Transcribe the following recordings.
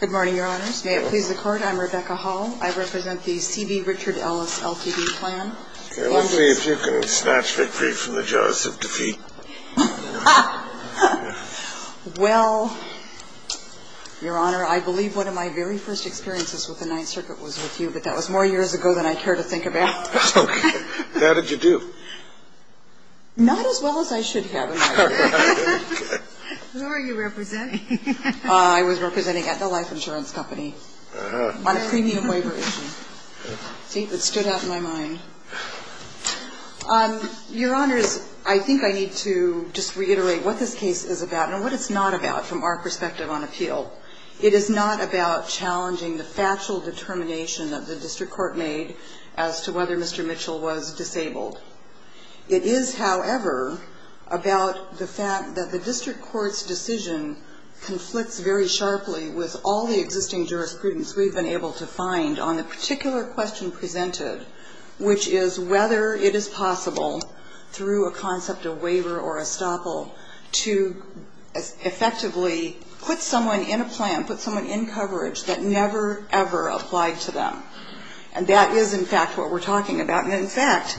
Good morning, Your Honors. May it please the Court, I'm Rebecca Hall. I represent the C.B. Richard Ellis LTD plan. Okay. Let's see if you can snatch victory from the jaws of defeat. Well, Your Honor, I believe one of my very first experiences with the Ninth Circuit was with you, but that was more years ago than I care to think about. Okay. How did you do? Not as well as I should have, in my view. Who are you representing? I was representing at the life insurance company on a premium waiver issue. See, it stood out in my mind. Your Honors, I think I need to just reiterate what this case is about and what it's not about from our perspective on appeal. It is not about challenging the factual determination that the district court made as to whether Mr. Mitchell was disabled. It is, however, about the fact that the district court's decision conflicts very sharply with all the existing jurisprudence we've been able to find on the particular question presented, which is whether it is possible through a concept of waiver or estoppel to effectively put someone in a plan, put someone in coverage that never, ever applied to them. And that is, in fact, what we're talking about. And, in fact,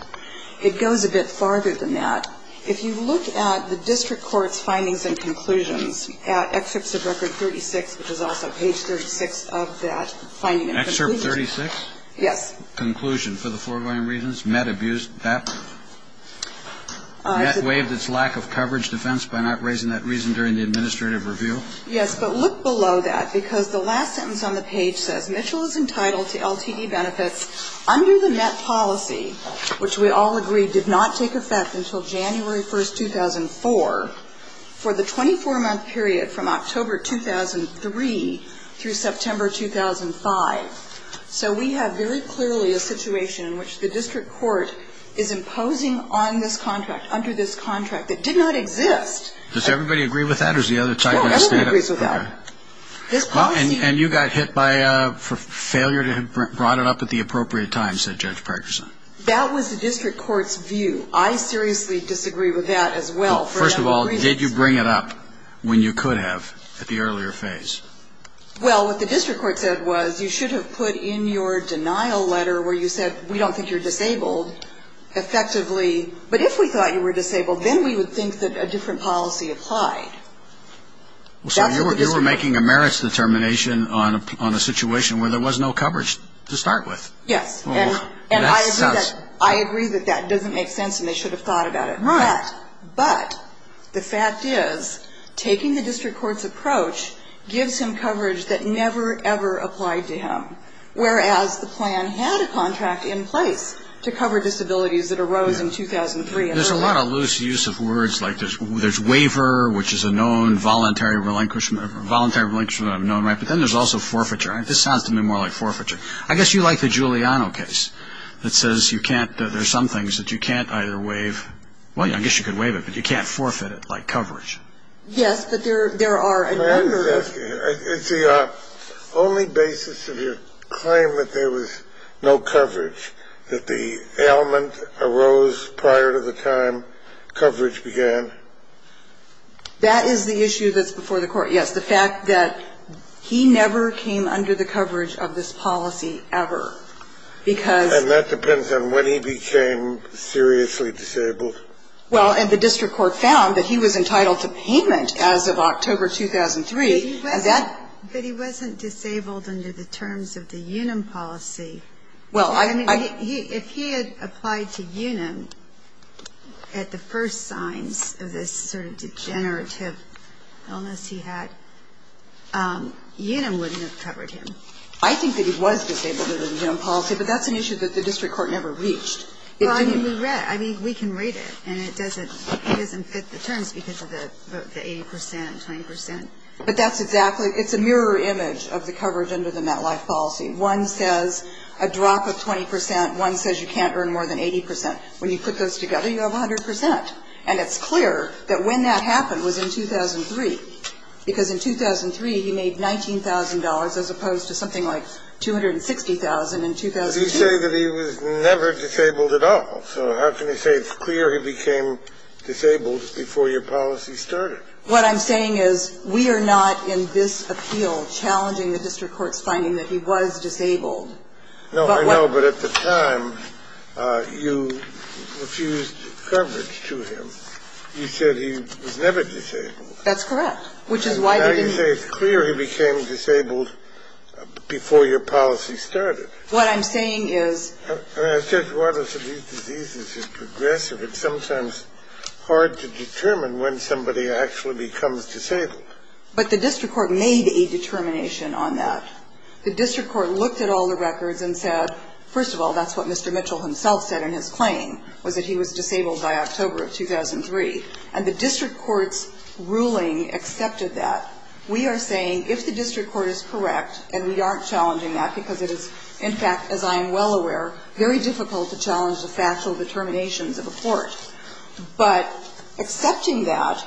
it goes a bit farther than that. If you look at the district court's findings and conclusions at Excerpts of Record 36, which is also page 36 of that finding and conclusion. Excerpt 36? Yes. Conclusion for the foregoing reasons. MET abused that. MET waived its lack of coverage defense by not raising that reason during the administrative review. Yes, but look below that, because the last sentence on the page says Mitchell is entitled to LTD benefits under the MET policy, which we all agree did not take effect until January 1, 2004, for the 24-month period from October 2003 through September 2005. So we have very clearly a situation in which the district court is imposing on this contract, under this contract, that did not exist. Does everybody agree with that? No, everybody agrees with that. And you got hit by a failure to have brought it up at the appropriate time, said Judge Parkerson. That was the district court's view. I seriously disagree with that as well. First of all, did you bring it up when you could have at the earlier phase? Well, what the district court said was you should have put in your denial letter where you said we don't think you're disabled, effectively. But if we thought you were disabled, then we would think that a different policy applied. So you were making a merits determination on a situation where there was no coverage to start with. Yes. And I agree that that doesn't make sense, and they should have thought about it. Right. But the fact is, taking the district court's approach gives him coverage that never, ever applied to him, whereas the plan had a contract in place to cover disabilities that arose in 2003. There's a lot of loose use of words, like there's waiver, which is a known voluntary relinquishment, but then there's also forfeiture. This sounds to me more like forfeiture. I guess you like the Giuliano case that says there are some things that you can't either waive. Well, I guess you could waive it, but you can't forfeit it like coverage. Yes, but there are a number of them. Excuse me. Is the only basis of your claim that there was no coverage, that the ailment arose prior to the time coverage began? That is the issue that's before the Court, yes, the fact that he never came under the coverage of this policy ever, because... And that depends on when he became seriously disabled. Well, and the district court found that he was entitled to payment as of October 2003, and that... But he wasn't disabled under the terms of the Unum policy. Well, I... I mean, if he had applied to Unum at the first signs of this sort of degenerative illness he had, Unum wouldn't have covered him. I think that he was disabled under the Unum policy, but that's an issue that the district court never reached. Well, I mean, we read it. I mean, we can read it. And it doesn't fit the terms because of the 80 percent, 20 percent. But that's exactly – it's a mirror image of the coverage under the MetLife policy. One says a drop of 20 percent. One says you can't earn more than 80 percent. When you put those together, you have 100 percent. And it's clear that when that happened was in 2003, because in 2003 he made $19,000 as opposed to something like $260,000 in 2002. Does he say that he was never disabled at all? So how can you say it's clear he became disabled before your policy started? What I'm saying is we are not in this appeal challenging the district court's finding that he was disabled. No, I know, but at the time you refused coverage to him. You said he was never disabled. That's correct, which is why they didn't... Now you say it's clear he became disabled before your policy started. What I'm saying is... I mean, I said one of these diseases is progressive. It's sometimes hard to determine when somebody actually becomes disabled. But the district court made a determination on that. The district court looked at all the records and said, first of all, that's what Mr. Mitchell himself said in his claim, was that he was disabled by October of 2003. And the district court's ruling accepted that. We are saying if the district court is correct, and we aren't challenging that because it is, in fact, as I am well aware, very difficult to challenge the factual determinations of a court. But accepting that,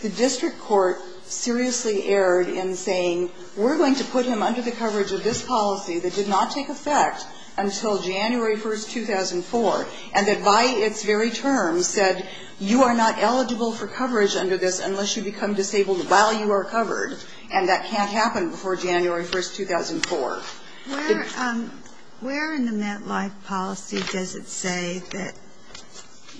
the district court seriously erred in saying, we're going to put him under the coverage of this policy that did not take effect until January 1, 2004, and that by its very term said you are not eligible for coverage under this unless you become disabled while you are covered, and that can't happen before January 1, 2004. Where in the MetLife policy does it say that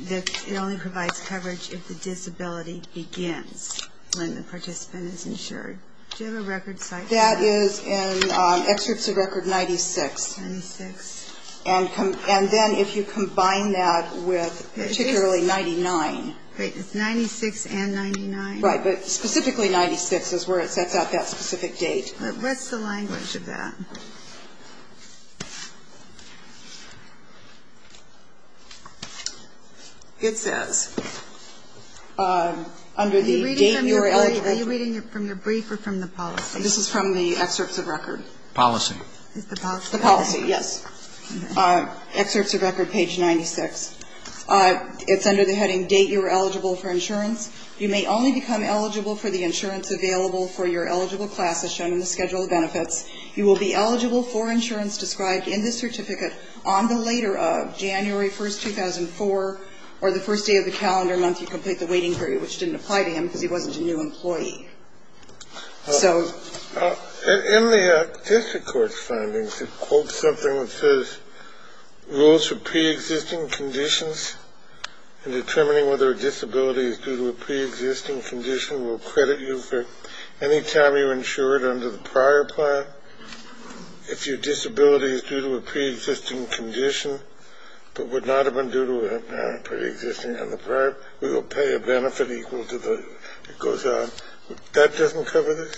it only provides coverage if the disability begins when the participant is insured? Do you have a record citing that? That is in Excerpts of Record 96. 96. And then if you combine that with particularly 99. Wait, it's 96 and 99? Right, but specifically 96 is where it sets out that specific date. What's the language of that? It says under the date you are eligible. Are you reading from your brief or from the policy? This is from the Excerpts of Record. Policy. It's the policy. The policy, yes. Excerpts of Record, page 96. It's under the heading date you are eligible for insurance. You may only become eligible for the insurance available for your eligible class, as shown in the schedule of benefits. You will be eligible for insurance described in this certificate on the later of January 1, 2004, or the first day of the calendar month you complete the waiting period, which didn't apply to him because he wasn't a new employee. So. In the district court's findings, it quotes something that says rules for preexisting conditions and determining whether a disability is due to a preexisting condition will credit you for any time you insured under the prior plan. If your disability is due to a preexisting condition, but would not have been due to a preexisting on the prior, we will pay a benefit equal to the, it goes on. That doesn't cover this?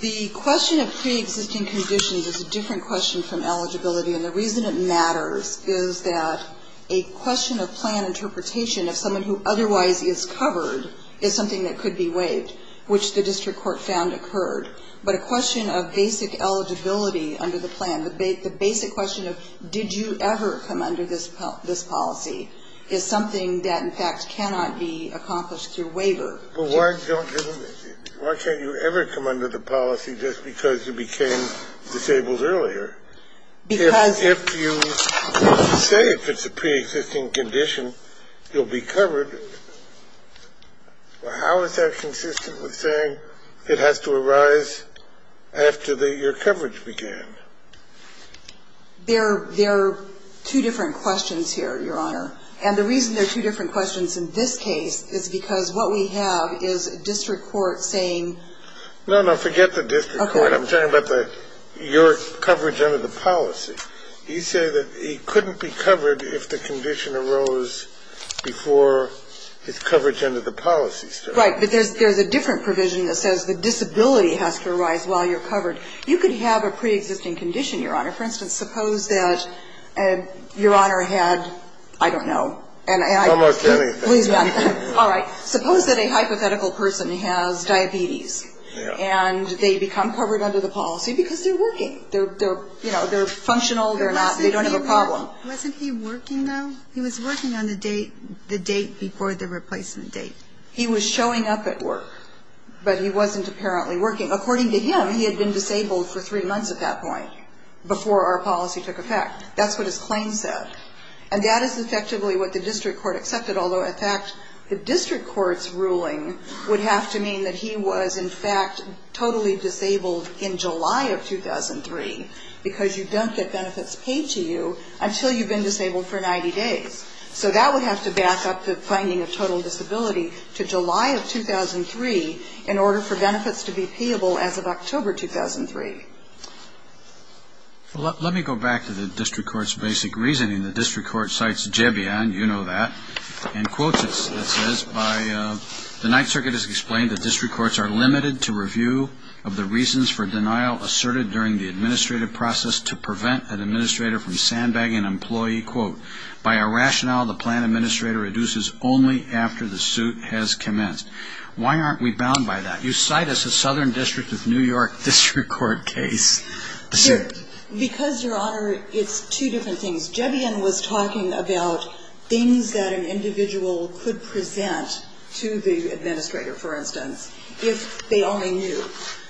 The question of preexisting conditions is a different question from eligibility, and the reason it matters is that a question of plan interpretation of someone who otherwise is covered is something that could be waived, which the district court found occurred. But a question of basic eligibility under the plan, the basic question of did you ever come under this policy, is something that, in fact, cannot be accomplished through waiver. Why can't you ever come under the policy just because you became disabled earlier? Because. If you say if it's a preexisting condition, you'll be covered. How is that consistent with saying it has to arise after your coverage began? There are two different questions here, Your Honor. And the reason there are two different questions in this case is because what we have is a district court saying. No, no, forget the district court. Okay. I'm talking about your coverage under the policy. You say that he couldn't be covered if the condition arose before his coverage under the policy started. Right. But there's a different provision that says the disability has to arise while you're covered. You could have a preexisting condition, Your Honor. For instance, suppose that Your Honor had, I don't know. Almost anything. All right. Suppose that a hypothetical person has diabetes and they become covered under the policy because they're working. They're functional. They don't have a problem. Wasn't he working, though? He was working on the date before the replacement date. He was showing up at work, but he wasn't apparently working. According to him, he had been disabled for three months at that point before our policy took effect. That's what his claim said. And that is effectively what the district court accepted, although, in fact, the district court's ruling would have to mean that he was, in fact, totally disabled in July of 2003 because you don't get benefits paid to you until you've been disabled for 90 days. So that would have to back up the finding of total disability to July of 2003 in order for benefits to be payable as of October 2003. Let me go back to the district court's basic reasoning. The district court cites Jebion, you know that, and quotes it. It says, by the Ninth Circuit, it is explained that district courts are limited to review of the reasons for denial asserted during the administrative process to prevent an administrator from sandbagging an employee. Quote, by our rationale, the plan administrator reduces only after the suit has commenced. Why aren't we bound by that? You cite us as Southern District of New York district court case. Because, Your Honor, it's two different things. Jebion was talking about things that an individual could present to the administrator, for instance, if they only knew.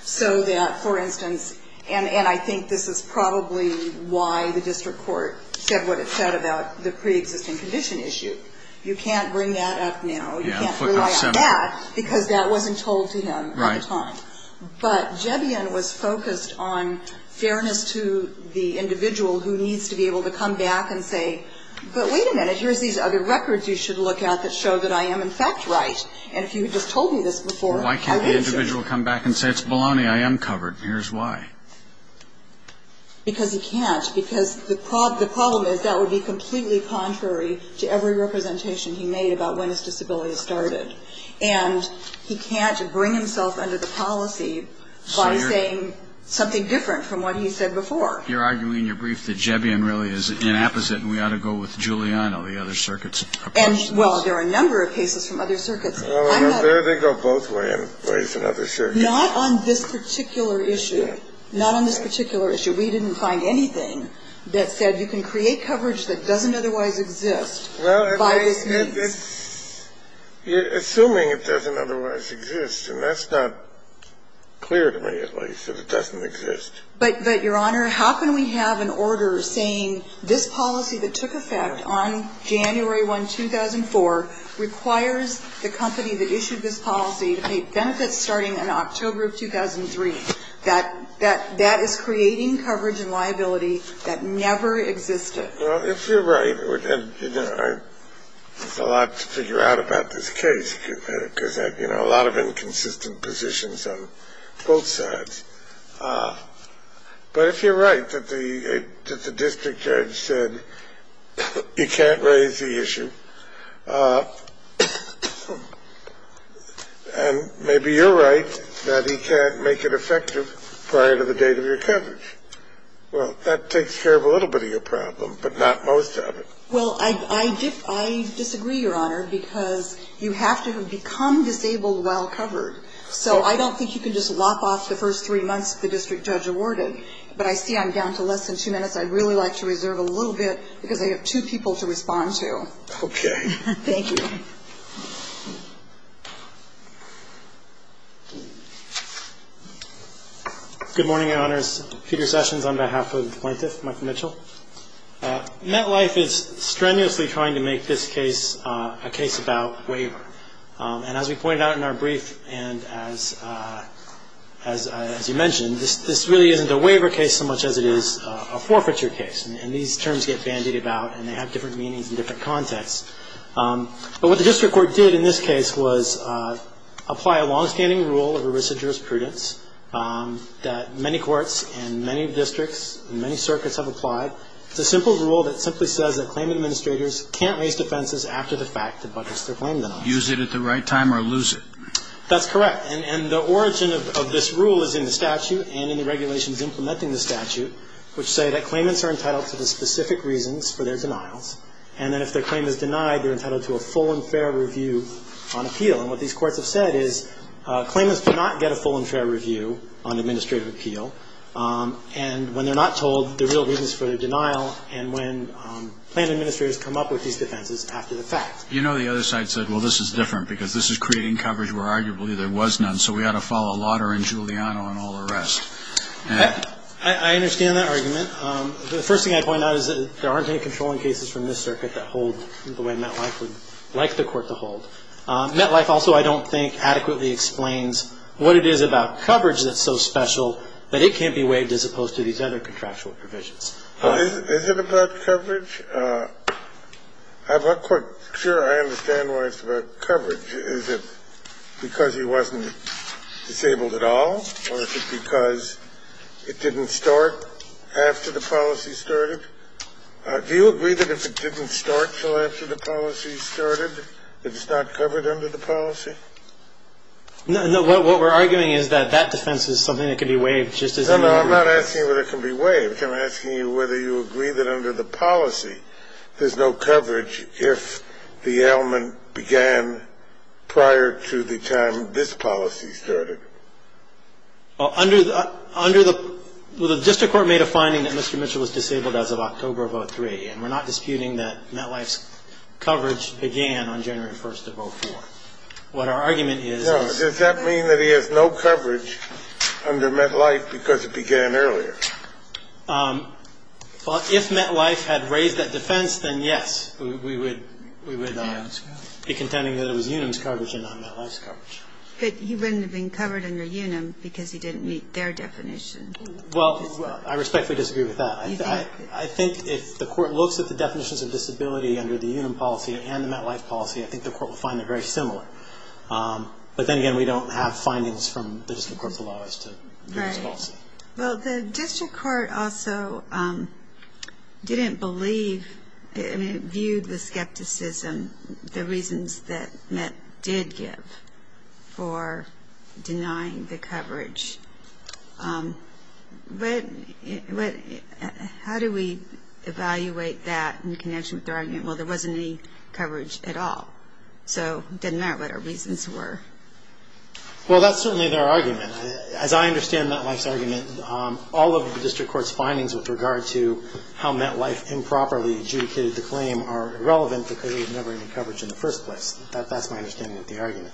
So that, for instance, and I think this is probably why the district court said what it said about the preexisting condition issue. You can't bring that up now. You can't rely on that because that wasn't told to him at the time. But Jebion was focused on fairness to the individual who needs to be able to come back and say, but wait a minute, here's these other records you should look at that show that I am, in fact, right. And if you had just told me this before, I would have shown you. Why can't the individual come back and say, it's baloney, I am covered, here's why. Because he can't. Because the problem is that would be completely contrary to every representation he made about when his disability started. And he can't bring himself under the policy by saying something different from what he said before. You're arguing in your brief that Jebion really is inapposite and we ought to go with Giuliano, the other circuits. Well, there are a number of cases from other circuits. They go both ways in other circuits. Not on this particular issue. Not on this particular issue. We didn't find anything that said you can create coverage that doesn't otherwise exist by this means. Assuming it doesn't otherwise exist. And that's not clear to me, at least, that it doesn't exist. But, Your Honor, how can we have an order saying this policy that took effect on January 1, 2004, requires the company that issued this policy to pay benefits starting in October of 2003. That is creating coverage and liability that never existed. Well, if you're right, and, you know, there's a lot to figure out about this case, because, you know, a lot of inconsistent positions on both sides. But if you're right that the district judge said you can't raise the issue, and maybe you're right that he can't make it effective prior to the date of your coverage. Well, that takes care of a little bit of your problem, but not most of it. Well, I disagree, Your Honor, because you have to become disabled while covered. So I don't think you can just lop off the first three months the district judge awarded. But I see I'm down to less than two minutes. I'd really like to reserve a little bit, because I have two people to respond to. Okay. Thank you. Thank you. Good morning, Your Honors. Peter Sessions on behalf of the plaintiff, Michael Mitchell. MetLife is strenuously trying to make this case a case about waiver. And as we pointed out in our brief, and as you mentioned, this really isn't a waiver case so much as it is a forfeiture case. And these terms get bandied about, and they have different meanings and different contexts. But what the district court did in this case was apply a longstanding rule of erissa jurisprudence that many courts and many districts and many circuits have applied. It's a simple rule that simply says that claim administrators can't raise defenses after the fact that the budget is their claim. Use it at the right time or lose it. That's correct. And the origin of this rule is in the statute and in the regulations implementing the statute, which say that claimants are entitled to the specific reasons for their denials, and that if their claim is denied, they're entitled to a full and fair review on appeal. And what these courts have said is claimants do not get a full and fair review on administrative appeal. And when they're not told the real reasons for their denial and when plaintiff administrators come up with these defenses after the fact. You know the other side said, well, this is different because this is creating coverage where arguably there was none, so we ought to follow Lauder and Giuliano and all the rest. I understand that argument. The first thing I'd point out is that there aren't any controlling cases from this circuit that hold the way MetLife would like the court to hold. MetLife also I don't think adequately explains what it is about coverage that's so special that it can't be waived as opposed to these other contractual provisions. Is it about coverage? I have a question. Sure, I understand why it's about coverage. Is it because he wasn't disabled at all? Or is it because it didn't start after the policy started? Do you agree that if it didn't start until after the policy started, that it's not covered under the policy? No. What we're arguing is that that defense is something that can be waived. No, no, I'm not asking whether it can be waived. I'm asking you whether you agree that under the policy, there's no coverage if the ailment began prior to the time this policy started. Well, under the the district court made a finding that Mr. Mitchell was disabled as of October of 2003, and we're not disputing that MetLife's coverage began on January 1st of 2004. What our argument is is No. Does that mean that he has no coverage under MetLife because it began earlier? Well, if MetLife had raised that defense, then yes, we would be contending that it was Unum's coverage and not MetLife's coverage. But he wouldn't have been covered under Unum because he didn't meet their definition. Well, I respectfully disagree with that. I think if the court looks at the definitions of disability under the Unum policy and the MetLife policy, I think the court will find they're very similar. But then again, we don't have findings from the district court below as to Unum's policy. Well, the district court also didn't believe and viewed with skepticism the reasons that Met did give for denying the coverage. But how do we evaluate that in connection with their argument? Well, there wasn't any coverage at all, so it didn't matter what our reasons were. Well, that's certainly their argument. As I understand MetLife's argument, all of the district court's findings with regard to how MetLife improperly adjudicated the claim are irrelevant because there was never any coverage in the first place. That's my understanding of the argument.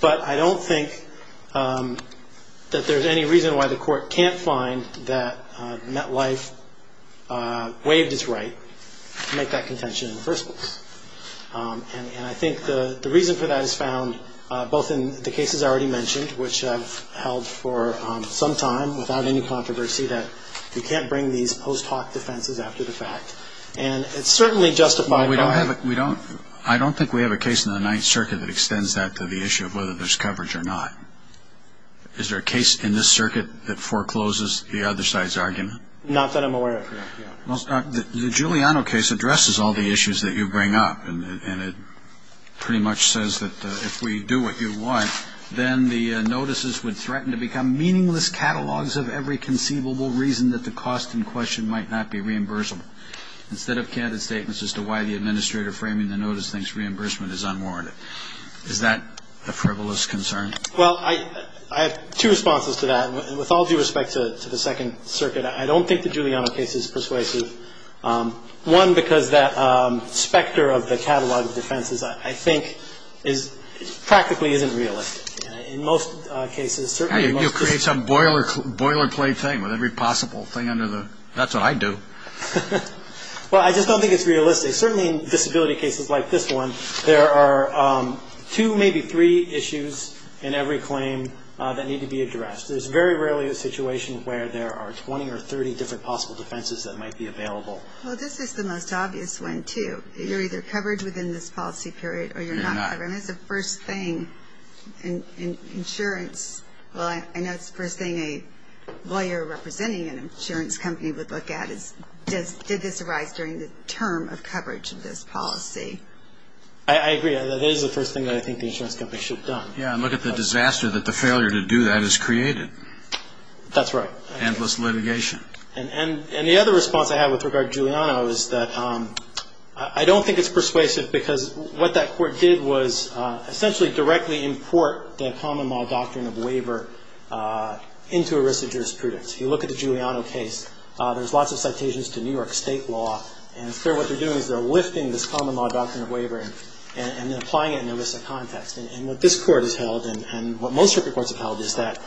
But I don't think that there's any reason why the court can't find that MetLife waived its right to make that contention in the first place. And I think the reason for that is found both in the cases I already mentioned, which I've held for some time without any controversy, that you can't bring these post hoc defenses after the fact. And it's certainly justified by the fact... Well, I don't think we have a case in the Ninth Circuit that extends that to the issue of whether there's coverage or not. Is there a case in this circuit that forecloses the other side's argument? Not that I'm aware of, no. The Giuliano case addresses all the issues that you bring up, and it pretty much says that if we do what you want, then the notices would threaten to become meaningless catalogs of every conceivable reason that the cost in question might not be reimbursable, instead of candid statements as to why the administrator framing the notice thinks reimbursement is unwarranted. Is that a frivolous concern? Well, I have two responses to that. With all due respect to the Second Circuit, I don't think the Giuliano case is persuasive. One, because that specter of the catalog of defenses, I think, practically isn't realistic. In most cases, certainly... You create some boilerplate thing with every possible thing under the... That's what I do. Well, I just don't think it's realistic. Certainly in disability cases like this one, there are two, maybe three issues in every claim that need to be addressed. There's very rarely a situation where there are 20 or 30 different possible defenses that might be available. Well, this is the most obvious one, too. You're either covered within this policy period or you're not covered. You're not. And that's the first thing insurance... Well, I know it's the first thing a lawyer representing an insurance company would look at, is did this arise during the term of coverage of this policy? I agree. That is the first thing that I think the insurance company should have done. Yeah, and look at the disaster that the failure to do that has created. That's right. Endless litigation. And the other response I have with regard to Giuliano is that I don't think it's persuasive because what that court did was essentially directly import the common law doctrine of waiver into ERISA jurisprudence. If you look at the Giuliano case, there's lots of citations to New York state law, and what they're doing is they're lifting this common law doctrine of waiver and applying it in ERISA context. And what this court has held, and what most circuit courts have held, is that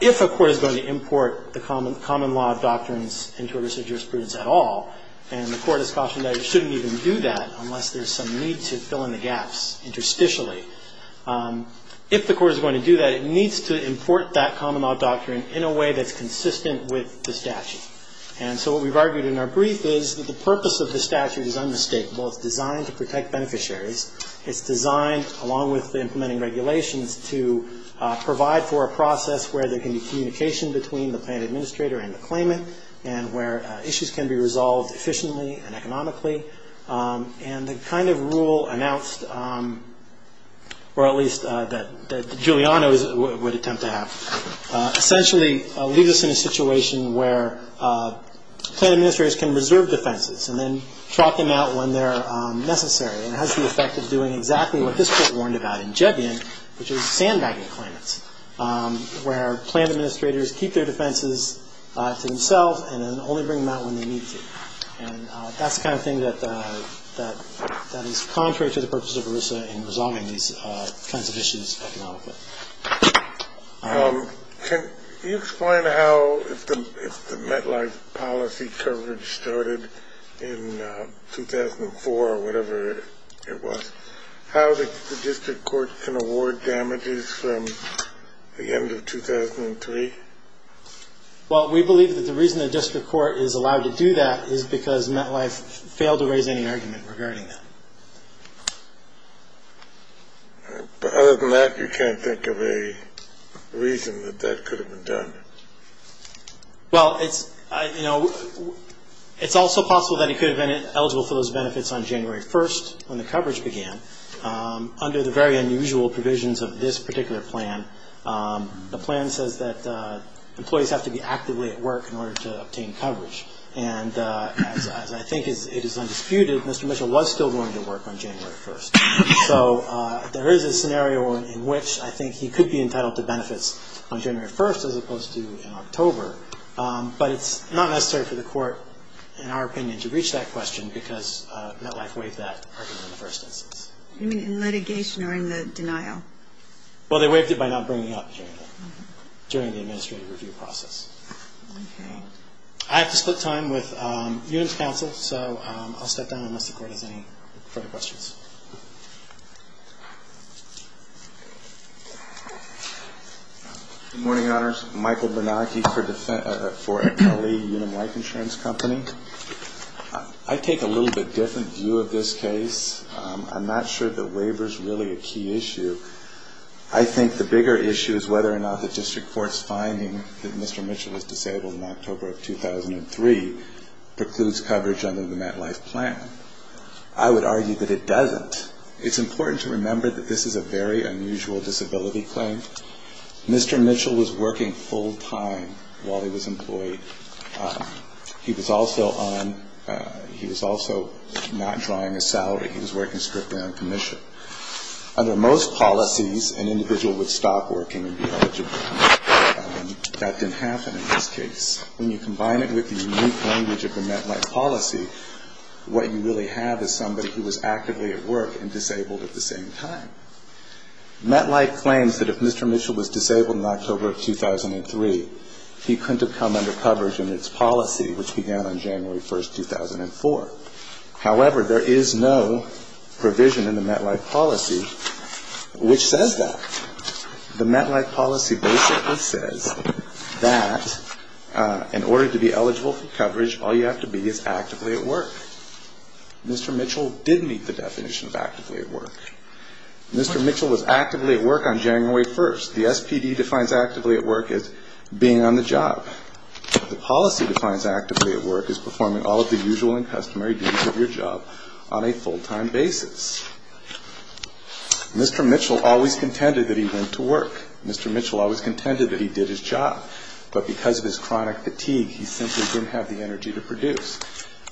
if a court is going to import the common law of doctrines into ERISA jurisprudence at all, and the court has cautioned that it shouldn't even do that unless there's some need to fill in the gaps interstitially, if the court is going to do that, it needs to import that common law doctrine in a way that's consistent with the statute. And so what we've argued in our brief is that the purpose of the statute is unmistakable. It's designed to protect beneficiaries. It's designed, along with implementing regulations, to provide for a process where there can be communication between the plain administrator and the claimant and where issues can be resolved efficiently and economically. And the kind of rule announced, or at least that Giuliano would attempt to have, essentially leaves us in a situation where plain administrators can reserve defenses and then drop them out when they're necessary. And it has the effect of doing exactly what this court warned about in Jebian, which is sandbagging claimants, where plain administrators keep their defenses to themselves and then only bring them out when they need to. And that's the kind of thing that is contrary to the purpose of ERISA in resolving these kinds of issues economically. Can you explain how, if the MetLife policy coverage started in 2004 or whatever it was, how the district court can award damages from the end of 2003? Well, we believe that the reason the district court is allowed to do that is because MetLife failed to raise any argument regarding that. But other than that, you can't think of a reason that that could have been done? Well, it's, you know, it's also possible that it could have been eligible for those benefits on January 1st when the coverage began under the very unusual provisions of this particular plan. The plan says that employees have to be actively at work in order to obtain coverage. And as I think it is undisputed, Mr. Mitchell was still going to work on January 1st. So there is a scenario in which I think he could be entitled to benefits on January 1st as opposed to in October. But it's not necessary for the court, in our opinion, to reach that question because MetLife waived that argument in the first instance. You mean in litigation or in the denial? Well, they waived it by not bringing it up during the administrative review process. Okay. I have to split time with Union's counsel, so I'll step down unless the court has any further questions. Good morning, Your Honors. Michael Bernanke for L.A. Union Life Insurance Company. I take a little bit different view of this case. I'm not sure that waiver is really a key issue. I think the bigger issue is whether or not the district court's finding that Mr. Mitchell was disabled in October of 2003 precludes coverage under the MetLife plan. I would argue that it doesn't. It's important to remember that this is a very unusual disability claim. Mr. Mitchell was working full time while he was employed. He was also on he was also not drawing a salary. He was working strictly on commission. Under most policies, an individual would stop working and be eligible for commission. That didn't happen in this case. When you combine it with the unique language of the MetLife policy, what you really have is somebody who was actively at work and disabled at the same time. MetLife claims that if Mr. Mitchell was disabled in October of 2003, he couldn't have come under coverage in its policy, which began on January 1, 2004. However, there is no provision in the MetLife policy which says that. The MetLife policy basically says that in order to be eligible for coverage, all you have to be is actively at work. Mr. Mitchell did meet the definition of actively at work. Mr. Mitchell was actively at work on January 1. The SPD defines actively at work as being on the job. The policy defines actively at work as performing all of the usual and customary duties of your job on a full-time basis. Mr. Mitchell always contended that he went to work. Mr. Mitchell always contended that he did his job. But because of his chronic fatigue, he simply didn't have the energy to produce.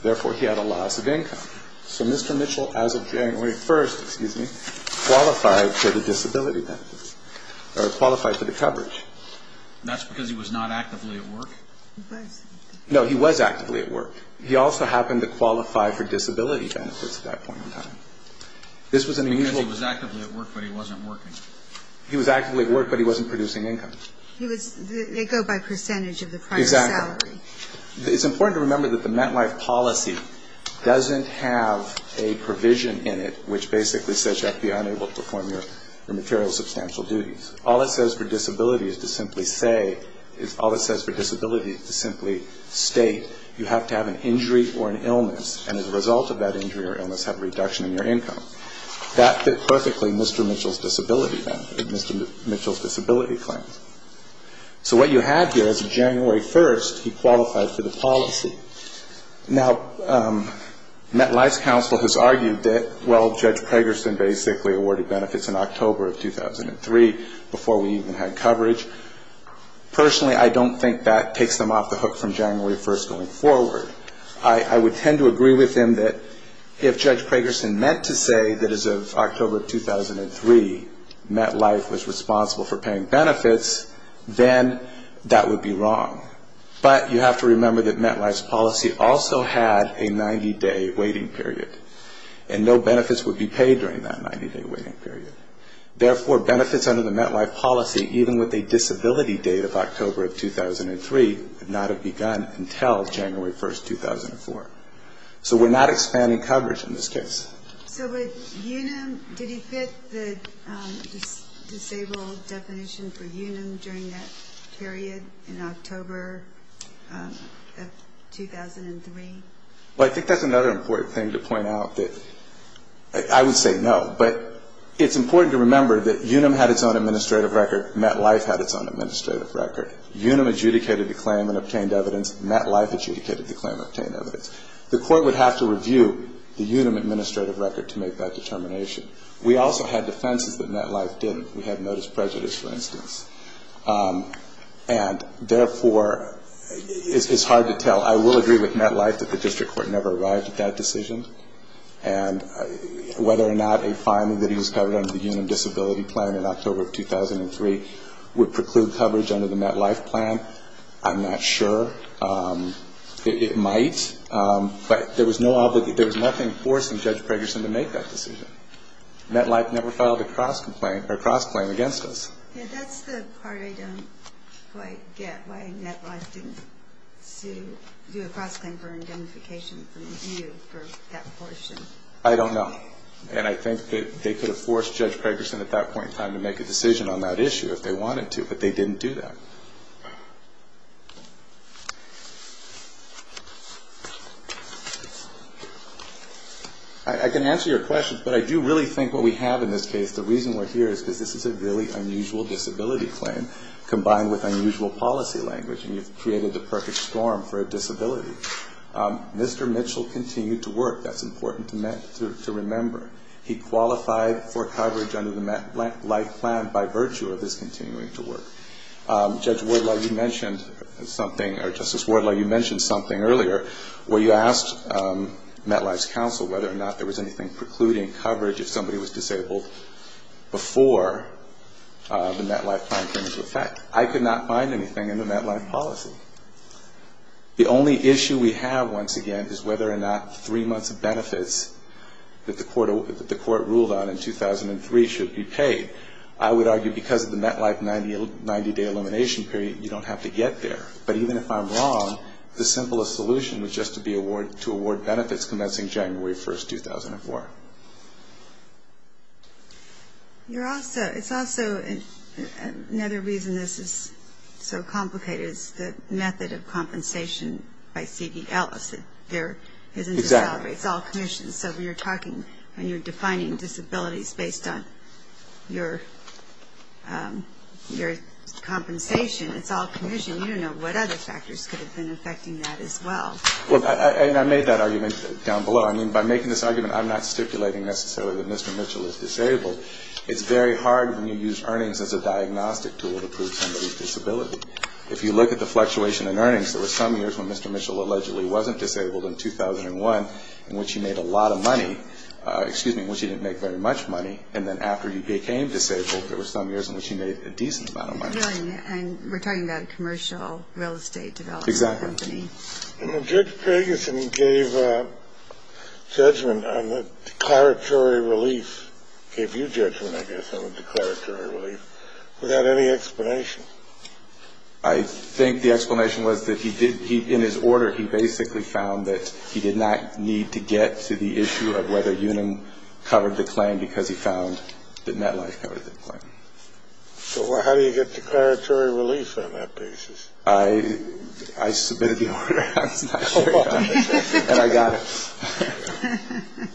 Therefore, he had a loss of income. So Mr. Mitchell, as of January 1, excuse me, qualified for the disability benefits or qualified for the coverage. That's because he was not actively at work? He was. No, he was actively at work. He also happened to qualify for disability benefits at that point in time. Because he was actively at work, but he wasn't working. He was actively at work, but he wasn't producing income. They go by percentage of the primary salary. Exactly. It's important to remember that the MetLife policy doesn't have a provision in it which basically says you have to be unable to perform your material substantial duties. All it says for disability is to simply say, all it says for disability is to simply state you have to have an injury or an illness and as a result of that injury or illness have a reduction in your income. That fit perfectly Mr. Mitchell's disability benefit, Mr. Mitchell's disability claims. So what you have here is January 1, he qualified for the policy. Now, MetLife's counsel has argued that, well, Judge Pragerson basically awarded benefits in October of 2003 before we even had coverage. Personally, I don't think that takes them off the hook from January 1 going forward. I would tend to agree with him that if Judge Pragerson meant to say that as of October of 2003, MetLife was responsible for paying benefits, then that would be wrong. But you have to remember that MetLife's policy also had a 90-day waiting period and no benefits would be paid during that 90-day waiting period. Therefore, benefits under the MetLife policy, even with a disability date of October of 2003, would not have begun until January 1, 2004. So we're not expanding coverage in this case. So with UNUM, did he fit the disabled definition for UNUM during that period in October of 2003? Well, I think that's another important thing to point out. I would say no, but it's important to remember that UNUM had its own administrative record. MetLife had its own administrative record. UNUM adjudicated the claim and obtained evidence. MetLife adjudicated the claim and obtained evidence. The court would have to review the UNUM administrative record to make that determination. We also had defenses that MetLife didn't. We had notice of prejudice, for instance. And therefore, it's hard to tell. I will agree with MetLife that the district court never arrived at that decision. And whether or not a finding that he was covered under the UNUM disability plan in October of 2003 would preclude coverage under the MetLife plan, I'm not sure. It might, but there was nothing forcing Judge Pragerson to make that decision. MetLife never filed a cross-claim against us. I don't know. And I think that they could have forced Judge Pragerson at that point in time to make a decision on that issue if they wanted to, but they didn't do that. I can answer your question, but I do really think what we have in this case, the reason we're here is because this is a really unusual disability claim, combined with unusual policy language, and you've created the perfect storm for a disability. Mr. Mitchell continued to work. That's important to remember. He qualified for coverage under the MetLife plan by virtue of his continuing to work. Judge Wardlaw, you mentioned something, or Justice Wardlaw, you mentioned something earlier where you asked MetLife's counsel whether or not there was anything precluding coverage if somebody was disabled before the MetLife plan came into effect. I could not find anything in the MetLife policy. The only issue we have, once again, is whether or not three months of benefits that the court ruled on in 2003 should be paid. I would argue because of the MetLife 90-day elimination period, you don't have to get there. But even if I'm wrong, the simplest solution would just be to award benefits commencing January 1, 2004. It's also another reason this is so complicated is the method of compensation by CDL. It's all commissions. So when you're talking, when you're defining disabilities based on your compensation, it's all commission. You don't know what other factors could have been affecting that as well. And I made that argument down below. I mean, by making this argument, I'm not stipulating necessarily that Mr. Mitchell is disabled. It's very hard when you use earnings as a diagnostic tool to prove somebody's disability. If you look at the fluctuation in earnings, there were some years when Mr. Mitchell allegedly wasn't disabled in 2001, in which he made a lot of money, excuse me, in which he didn't make very much money. And then after he became disabled, there were some years in which he made a decent amount of money. And we're talking about a commercial real estate development company. Judge Gregson gave judgment on the declaratory relief, gave you judgment, I guess, on the declaratory relief without any explanation. I think the explanation was that he did, in his order, he basically found that he did not need to get to the issue of whether Unum covered the claim because he found that MetLife covered the claim. So how do you get declaratory relief on that basis? I submitted the order. And I got it.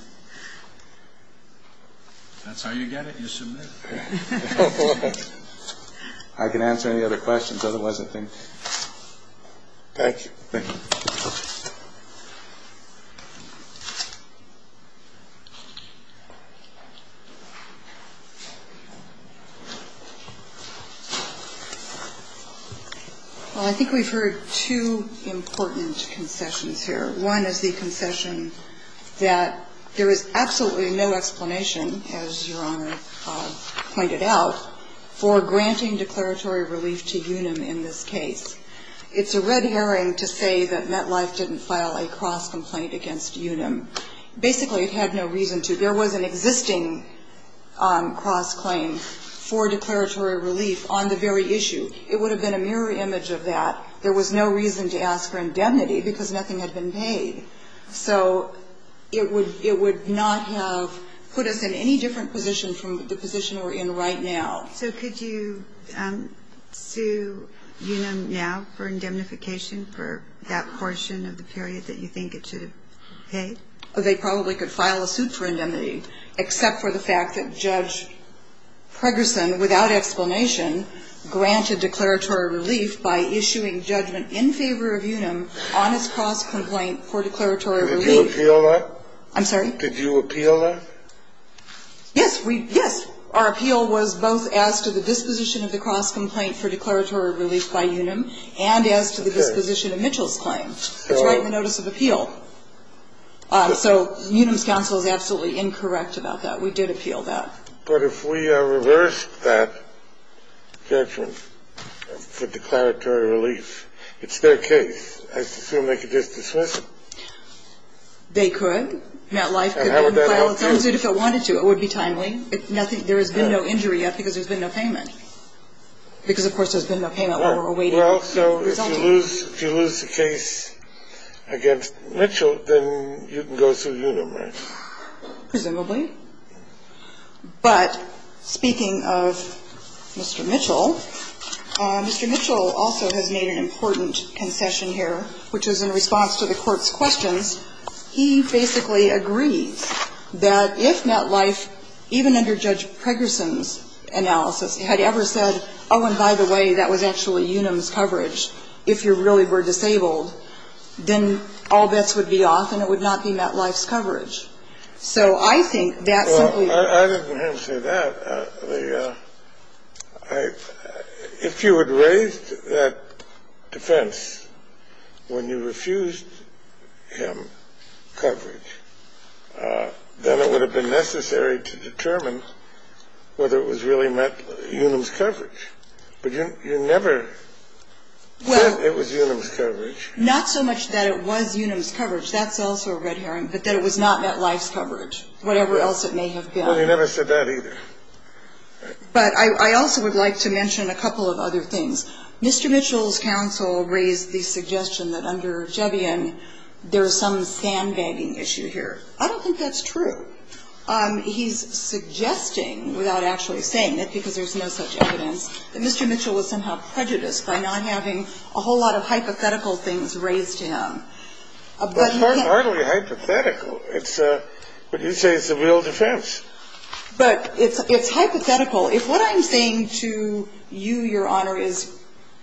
That's how you get it, you submit it. I can answer any other questions, otherwise I think. Thank you. Thank you. Well, I think we've heard two important concessions here. One is the concession that there is absolutely no explanation, as Your Honor pointed out, for granting declaratory relief to Unum in this case. It's a red herring to say that MetLife didn't file a cross-complaint against Unum. Basically, it had no reason to. There was an existing cross-claim for declaratory relief on the very issue. It would have been a mirror image of that. There was no reason to ask for indemnity because nothing had been paid. So it would not have put us in any different position from the position we're in right now. So could you sue Unum now for indemnification for that portion of the period that you think it should have paid? They probably could file a suit for indemnity, except for the fact that Judge Pregerson, without explanation, granted declaratory relief by issuing judgment in favor of Unum on its cross-complaint for declaratory relief. Did you appeal that? I'm sorry? Did you appeal that? Yes. Yes. Our appeal was both as to the disposition of the cross-complaint for declaratory relief by Unum and as to the disposition of Mitchell's claim. It's right in the notice of appeal. So Unum's counsel is absolutely incorrect about that. We did appeal that. But if we reversed that judgment for declaratory relief, it's their case. I assume they could just dismiss it. They could. MetLife could then file a suit. If they wanted to, it would be timely. There has been no injury yet because there's been no payment. Because, of course, there's been no payment while we're awaiting the result. Well, so if you lose the case against Mitchell, then you can go sue Unum, right? Presumably. But speaking of Mr. Mitchell, Mr. Mitchell also has made an important concession here, which is in response to the Court's questions, he basically agrees that if MetLife, even under Judge Pregerson's analysis, had ever said, oh, and by the way, that was actually Unum's coverage, if you really were disabled, then all bets would be off and it would not be MetLife's coverage. So I think that simply was the case. Well, I didn't have to say that. Well, if you had raised that defense when you refused him coverage, then it would have been necessary to determine whether it was really MetLife's coverage. But you never said it was Unum's coverage. Well, not so much that it was Unum's coverage. That's also a red herring, but that it was not MetLife's coverage, whatever else it may have been. Well, you never said that either. But I also would like to mention a couple of other things. Mr. Mitchell's counsel raised the suggestion that under Jevian, there is some sandbagging issue here. I don't think that's true. He's suggesting, without actually saying it, because there's no such evidence, that Mr. Mitchell was somehow prejudiced by not having a whole lot of hypothetical things raised to him. Well, it's hardly hypothetical. But you say it's a real defense. But it's hypothetical. If what I'm saying to you, Your Honor, is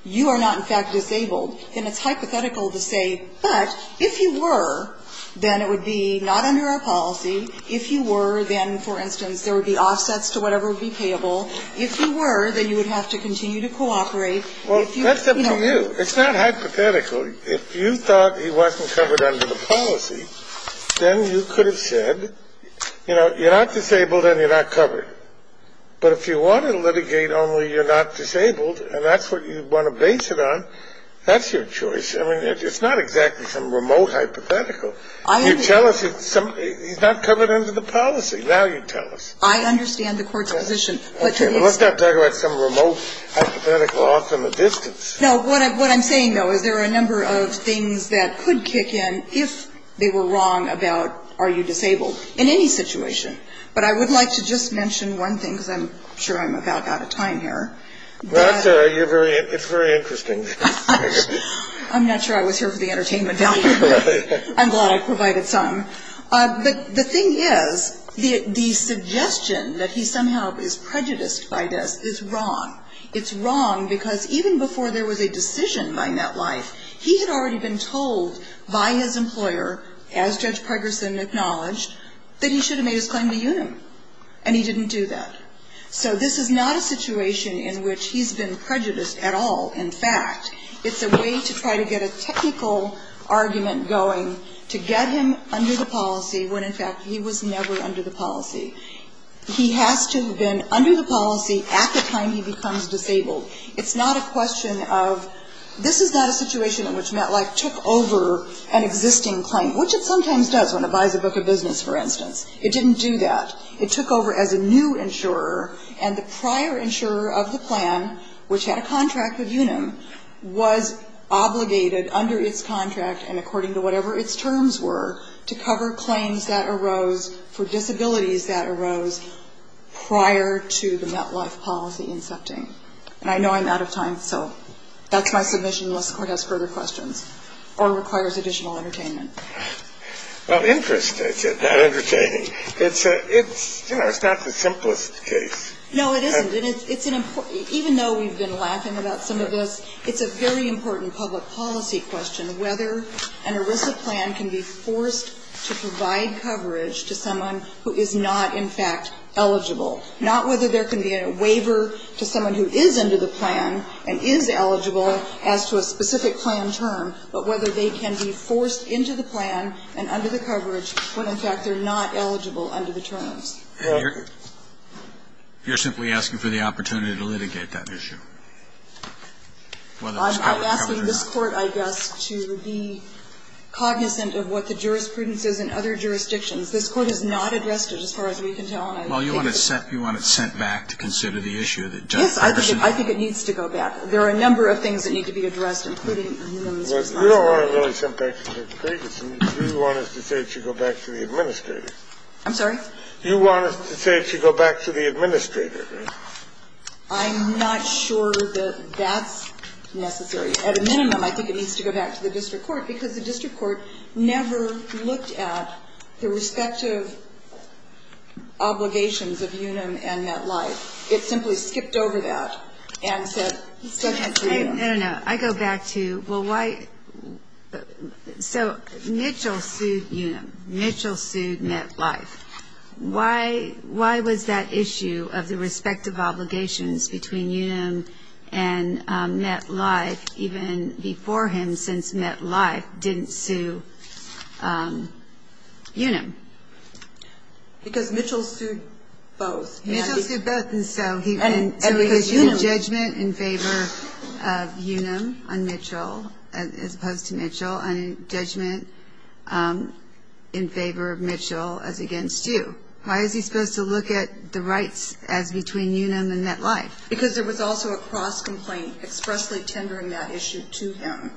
you are not, in fact, disabled, then it's hypothetical to say, but if you were, then it would be not under our policy. If you were, then, for instance, there would be offsets to whatever would be payable. If you were, then you would have to continue to cooperate. Well, that's up to you. It's not hypothetical. If you thought he wasn't covered under the policy, then you could have said, you know, you're not disabled and you're not covered. But if you wanted to litigate only you're not disabled, and that's what you want to base it on, that's your choice. I mean, it's not exactly some remote hypothetical. You tell us he's not covered under the policy. Now you tell us. I understand the Court's position. Okay, but let's not talk about some remote hypothetical off in the distance. No, what I'm saying, though, is there are a number of things that could kick in if they were wrong about are you disabled in any situation. But I would like to just mention one thing, because I'm sure I'm about out of time here. Well, it's very interesting. I'm not sure I was here for the entertainment value. I'm glad I provided some. But the thing is, the suggestion that he somehow is prejudiced by this is wrong. It's wrong because even before there was a decision by NetLife, he had already been told by his employer, as Judge Pregerson acknowledged, that he should have made his claim to UNUM. And he didn't do that. So this is not a situation in which he's been prejudiced at all. In fact, it's a way to try to get a technical argument going to get him under the policy He has to have been under the policy at the time he becomes disabled. It's not a question of this is not a situation in which NetLife took over an existing claim, which it sometimes does when it buys a book of business, for instance. It didn't do that. It took over as a new insurer. And the prior insurer of the plan, which had a contract with UNUM, was obligated under its contract and according to whatever its terms were, to cover claims that arose for disabilities that arose prior to the NetLife policy incepting. And I know I'm out of time, so that's my submission unless the Court has further questions or requires additional entertainment. Well, interest is not entertaining. It's, you know, it's not the simplest case. No, it isn't. And it's an important, even though we've been laughing about some of this, it's a very important public policy question whether an ERISA plan can be forced to provide coverage to someone who is not, in fact, eligible. Not whether there can be a waiver to someone who is under the plan and is eligible as to a specific plan term, but whether they can be forced into the plan and under the coverage when, in fact, they're not eligible under the terms. You're simply asking for the opportunity to litigate that issue. I'm asking this Court, I guess, to be cognizant of what the jurisprudence is in other jurisdictions. This Court has not addressed it as far as we can tell. Well, you want it sent back to consider the issue. Yes, I think it needs to go back. There are a number of things that need to be addressed, including UNUM's response. You don't want it really sent back to the plaintiffs. You want us to say it should go back to the administrators. I'm sorry? You want us to say it should go back to the administrators. I'm not sure that that's necessary. At a minimum, I think it needs to go back to the district court, because the district court never looked at the respective obligations of UNUM and MetLife. It simply skipped over that and said, send it to UNUM. I don't know. I go back to, well, why so Mitchell sued UNUM. Mitchell sued MetLife. Why was that issue of the respective obligations between UNUM and MetLife, even before him since MetLife, didn't sue UNUM? Because Mitchell sued both. Mitchell sued both, and so he didn't. And because UNUM. Judgment in favor of UNUM on Mitchell, as opposed to Mitchell. And judgment in favor of Mitchell as against you. Why is he supposed to look at the rights as between UNUM and MetLife? Because there was also a cross-complaint expressly tendering that issue to him.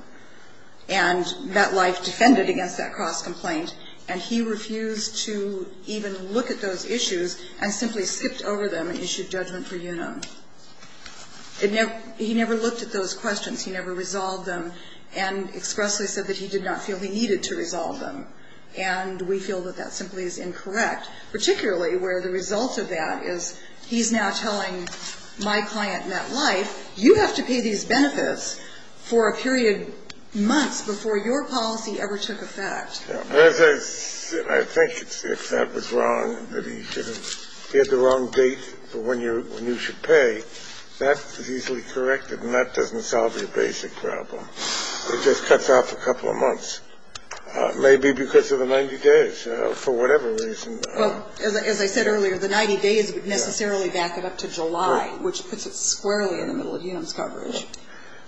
And MetLife defended against that cross-complaint, and he refused to even look at those He never looked at those questions. He never resolved them and expressly said that he did not feel he needed to resolve them. And we feel that that simply is incorrect, particularly where the result of that is he's now telling my client, MetLife, you have to pay these benefits for a period months before your policy ever took effect. I think if that was wrong, that he had the wrong date for when you should pay, that is easily corrected, and that doesn't solve your basic problem. It just cuts off a couple of months. Maybe because of the 90 days, for whatever reason. As I said earlier, the 90 days would necessarily back it up to July, which puts it squarely in the middle of UNUM's coverage.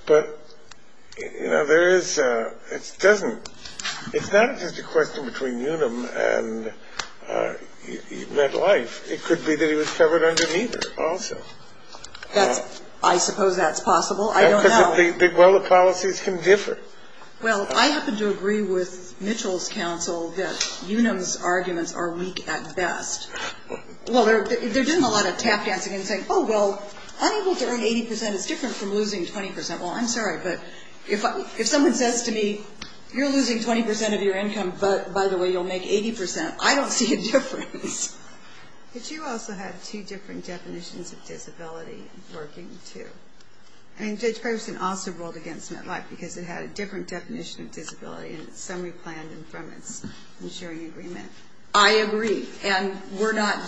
But it's not just a question between UNUM and MetLife. It could be that he was covered under neither also. I suppose that's possible. I don't know. Well, the policies can differ. Well, I happen to agree with Mitchell's counsel that UNUM's arguments are weak at best. Well, they're doing a lot of tap dancing and saying, oh, well, unable to earn 80% is different from losing 20%. Well, I'm sorry, but if someone says to me, you're losing 20% of your income, but by the way, you'll make 80%, I don't see a difference. But you also have two different definitions of disability working, too. I mean, Judge Ferguson also ruled against MetLife because it had a different definition of disability in its summary plan and from its insuring agreement. I agree. And we're not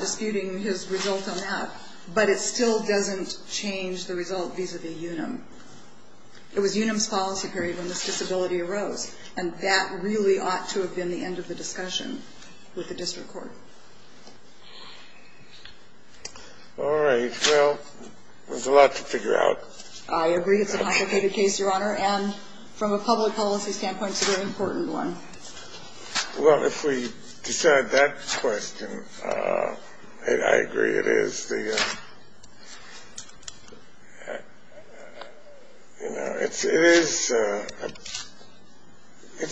disputing his result on that, but it still doesn't change the result vis-a-vis UNUM. It was UNUM's policy period when this disability arose, and that really ought to have been the end of the discussion with the district court. All right. Well, there's a lot to figure out. I agree. It's a complicated case, Your Honor. And from a public policy standpoint, it's a very important one. Well, if we decide that question, I agree it is. You know, it's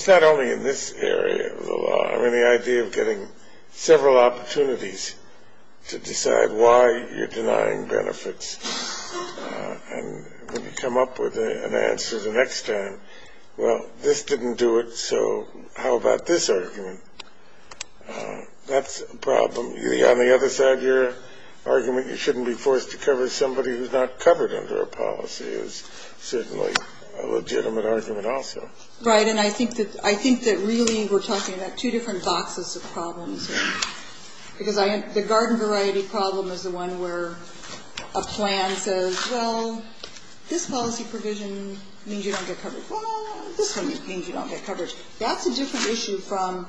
not only in this area of the law. I mean, the idea of getting several opportunities to decide why you're denying benefits and when you come up with an answer the next time, well, this didn't do it, so how about this argument? That's a problem. You think on the other side of your argument you shouldn't be forced to cover somebody who's not covered under a policy is certainly a legitimate argument also. Right. And I think that really we're talking about two different boxes of problems. Because the garden variety problem is the one where a plan says, well, this policy provision means you don't get coverage. Well, this one means you don't get coverage. That's a different issue from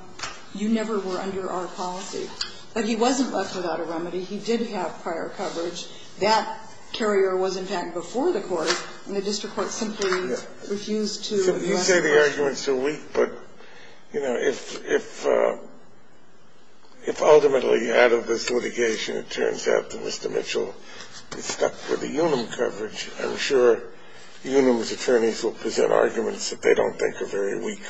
you never were under our policy. But he wasn't left without a remedy. He did have prior coverage. That carrier was, in fact, before the court, and the district court simply refused to address the question. You say the arguments are weak, but, you know, if ultimately out of this litigation it turns out that Mr. Mitchell is stuck with the UNUM coverage, I'm sure UNUM's arguments that they don't think are very weak.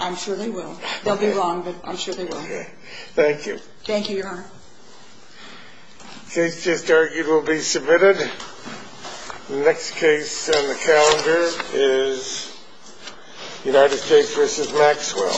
I'm sure they will. They'll be wrong, but I'm sure they will. Okay. Thank you. Thank you, Your Honor. The case just argued will be submitted. The next case on the calendar is United States v. Maxwell.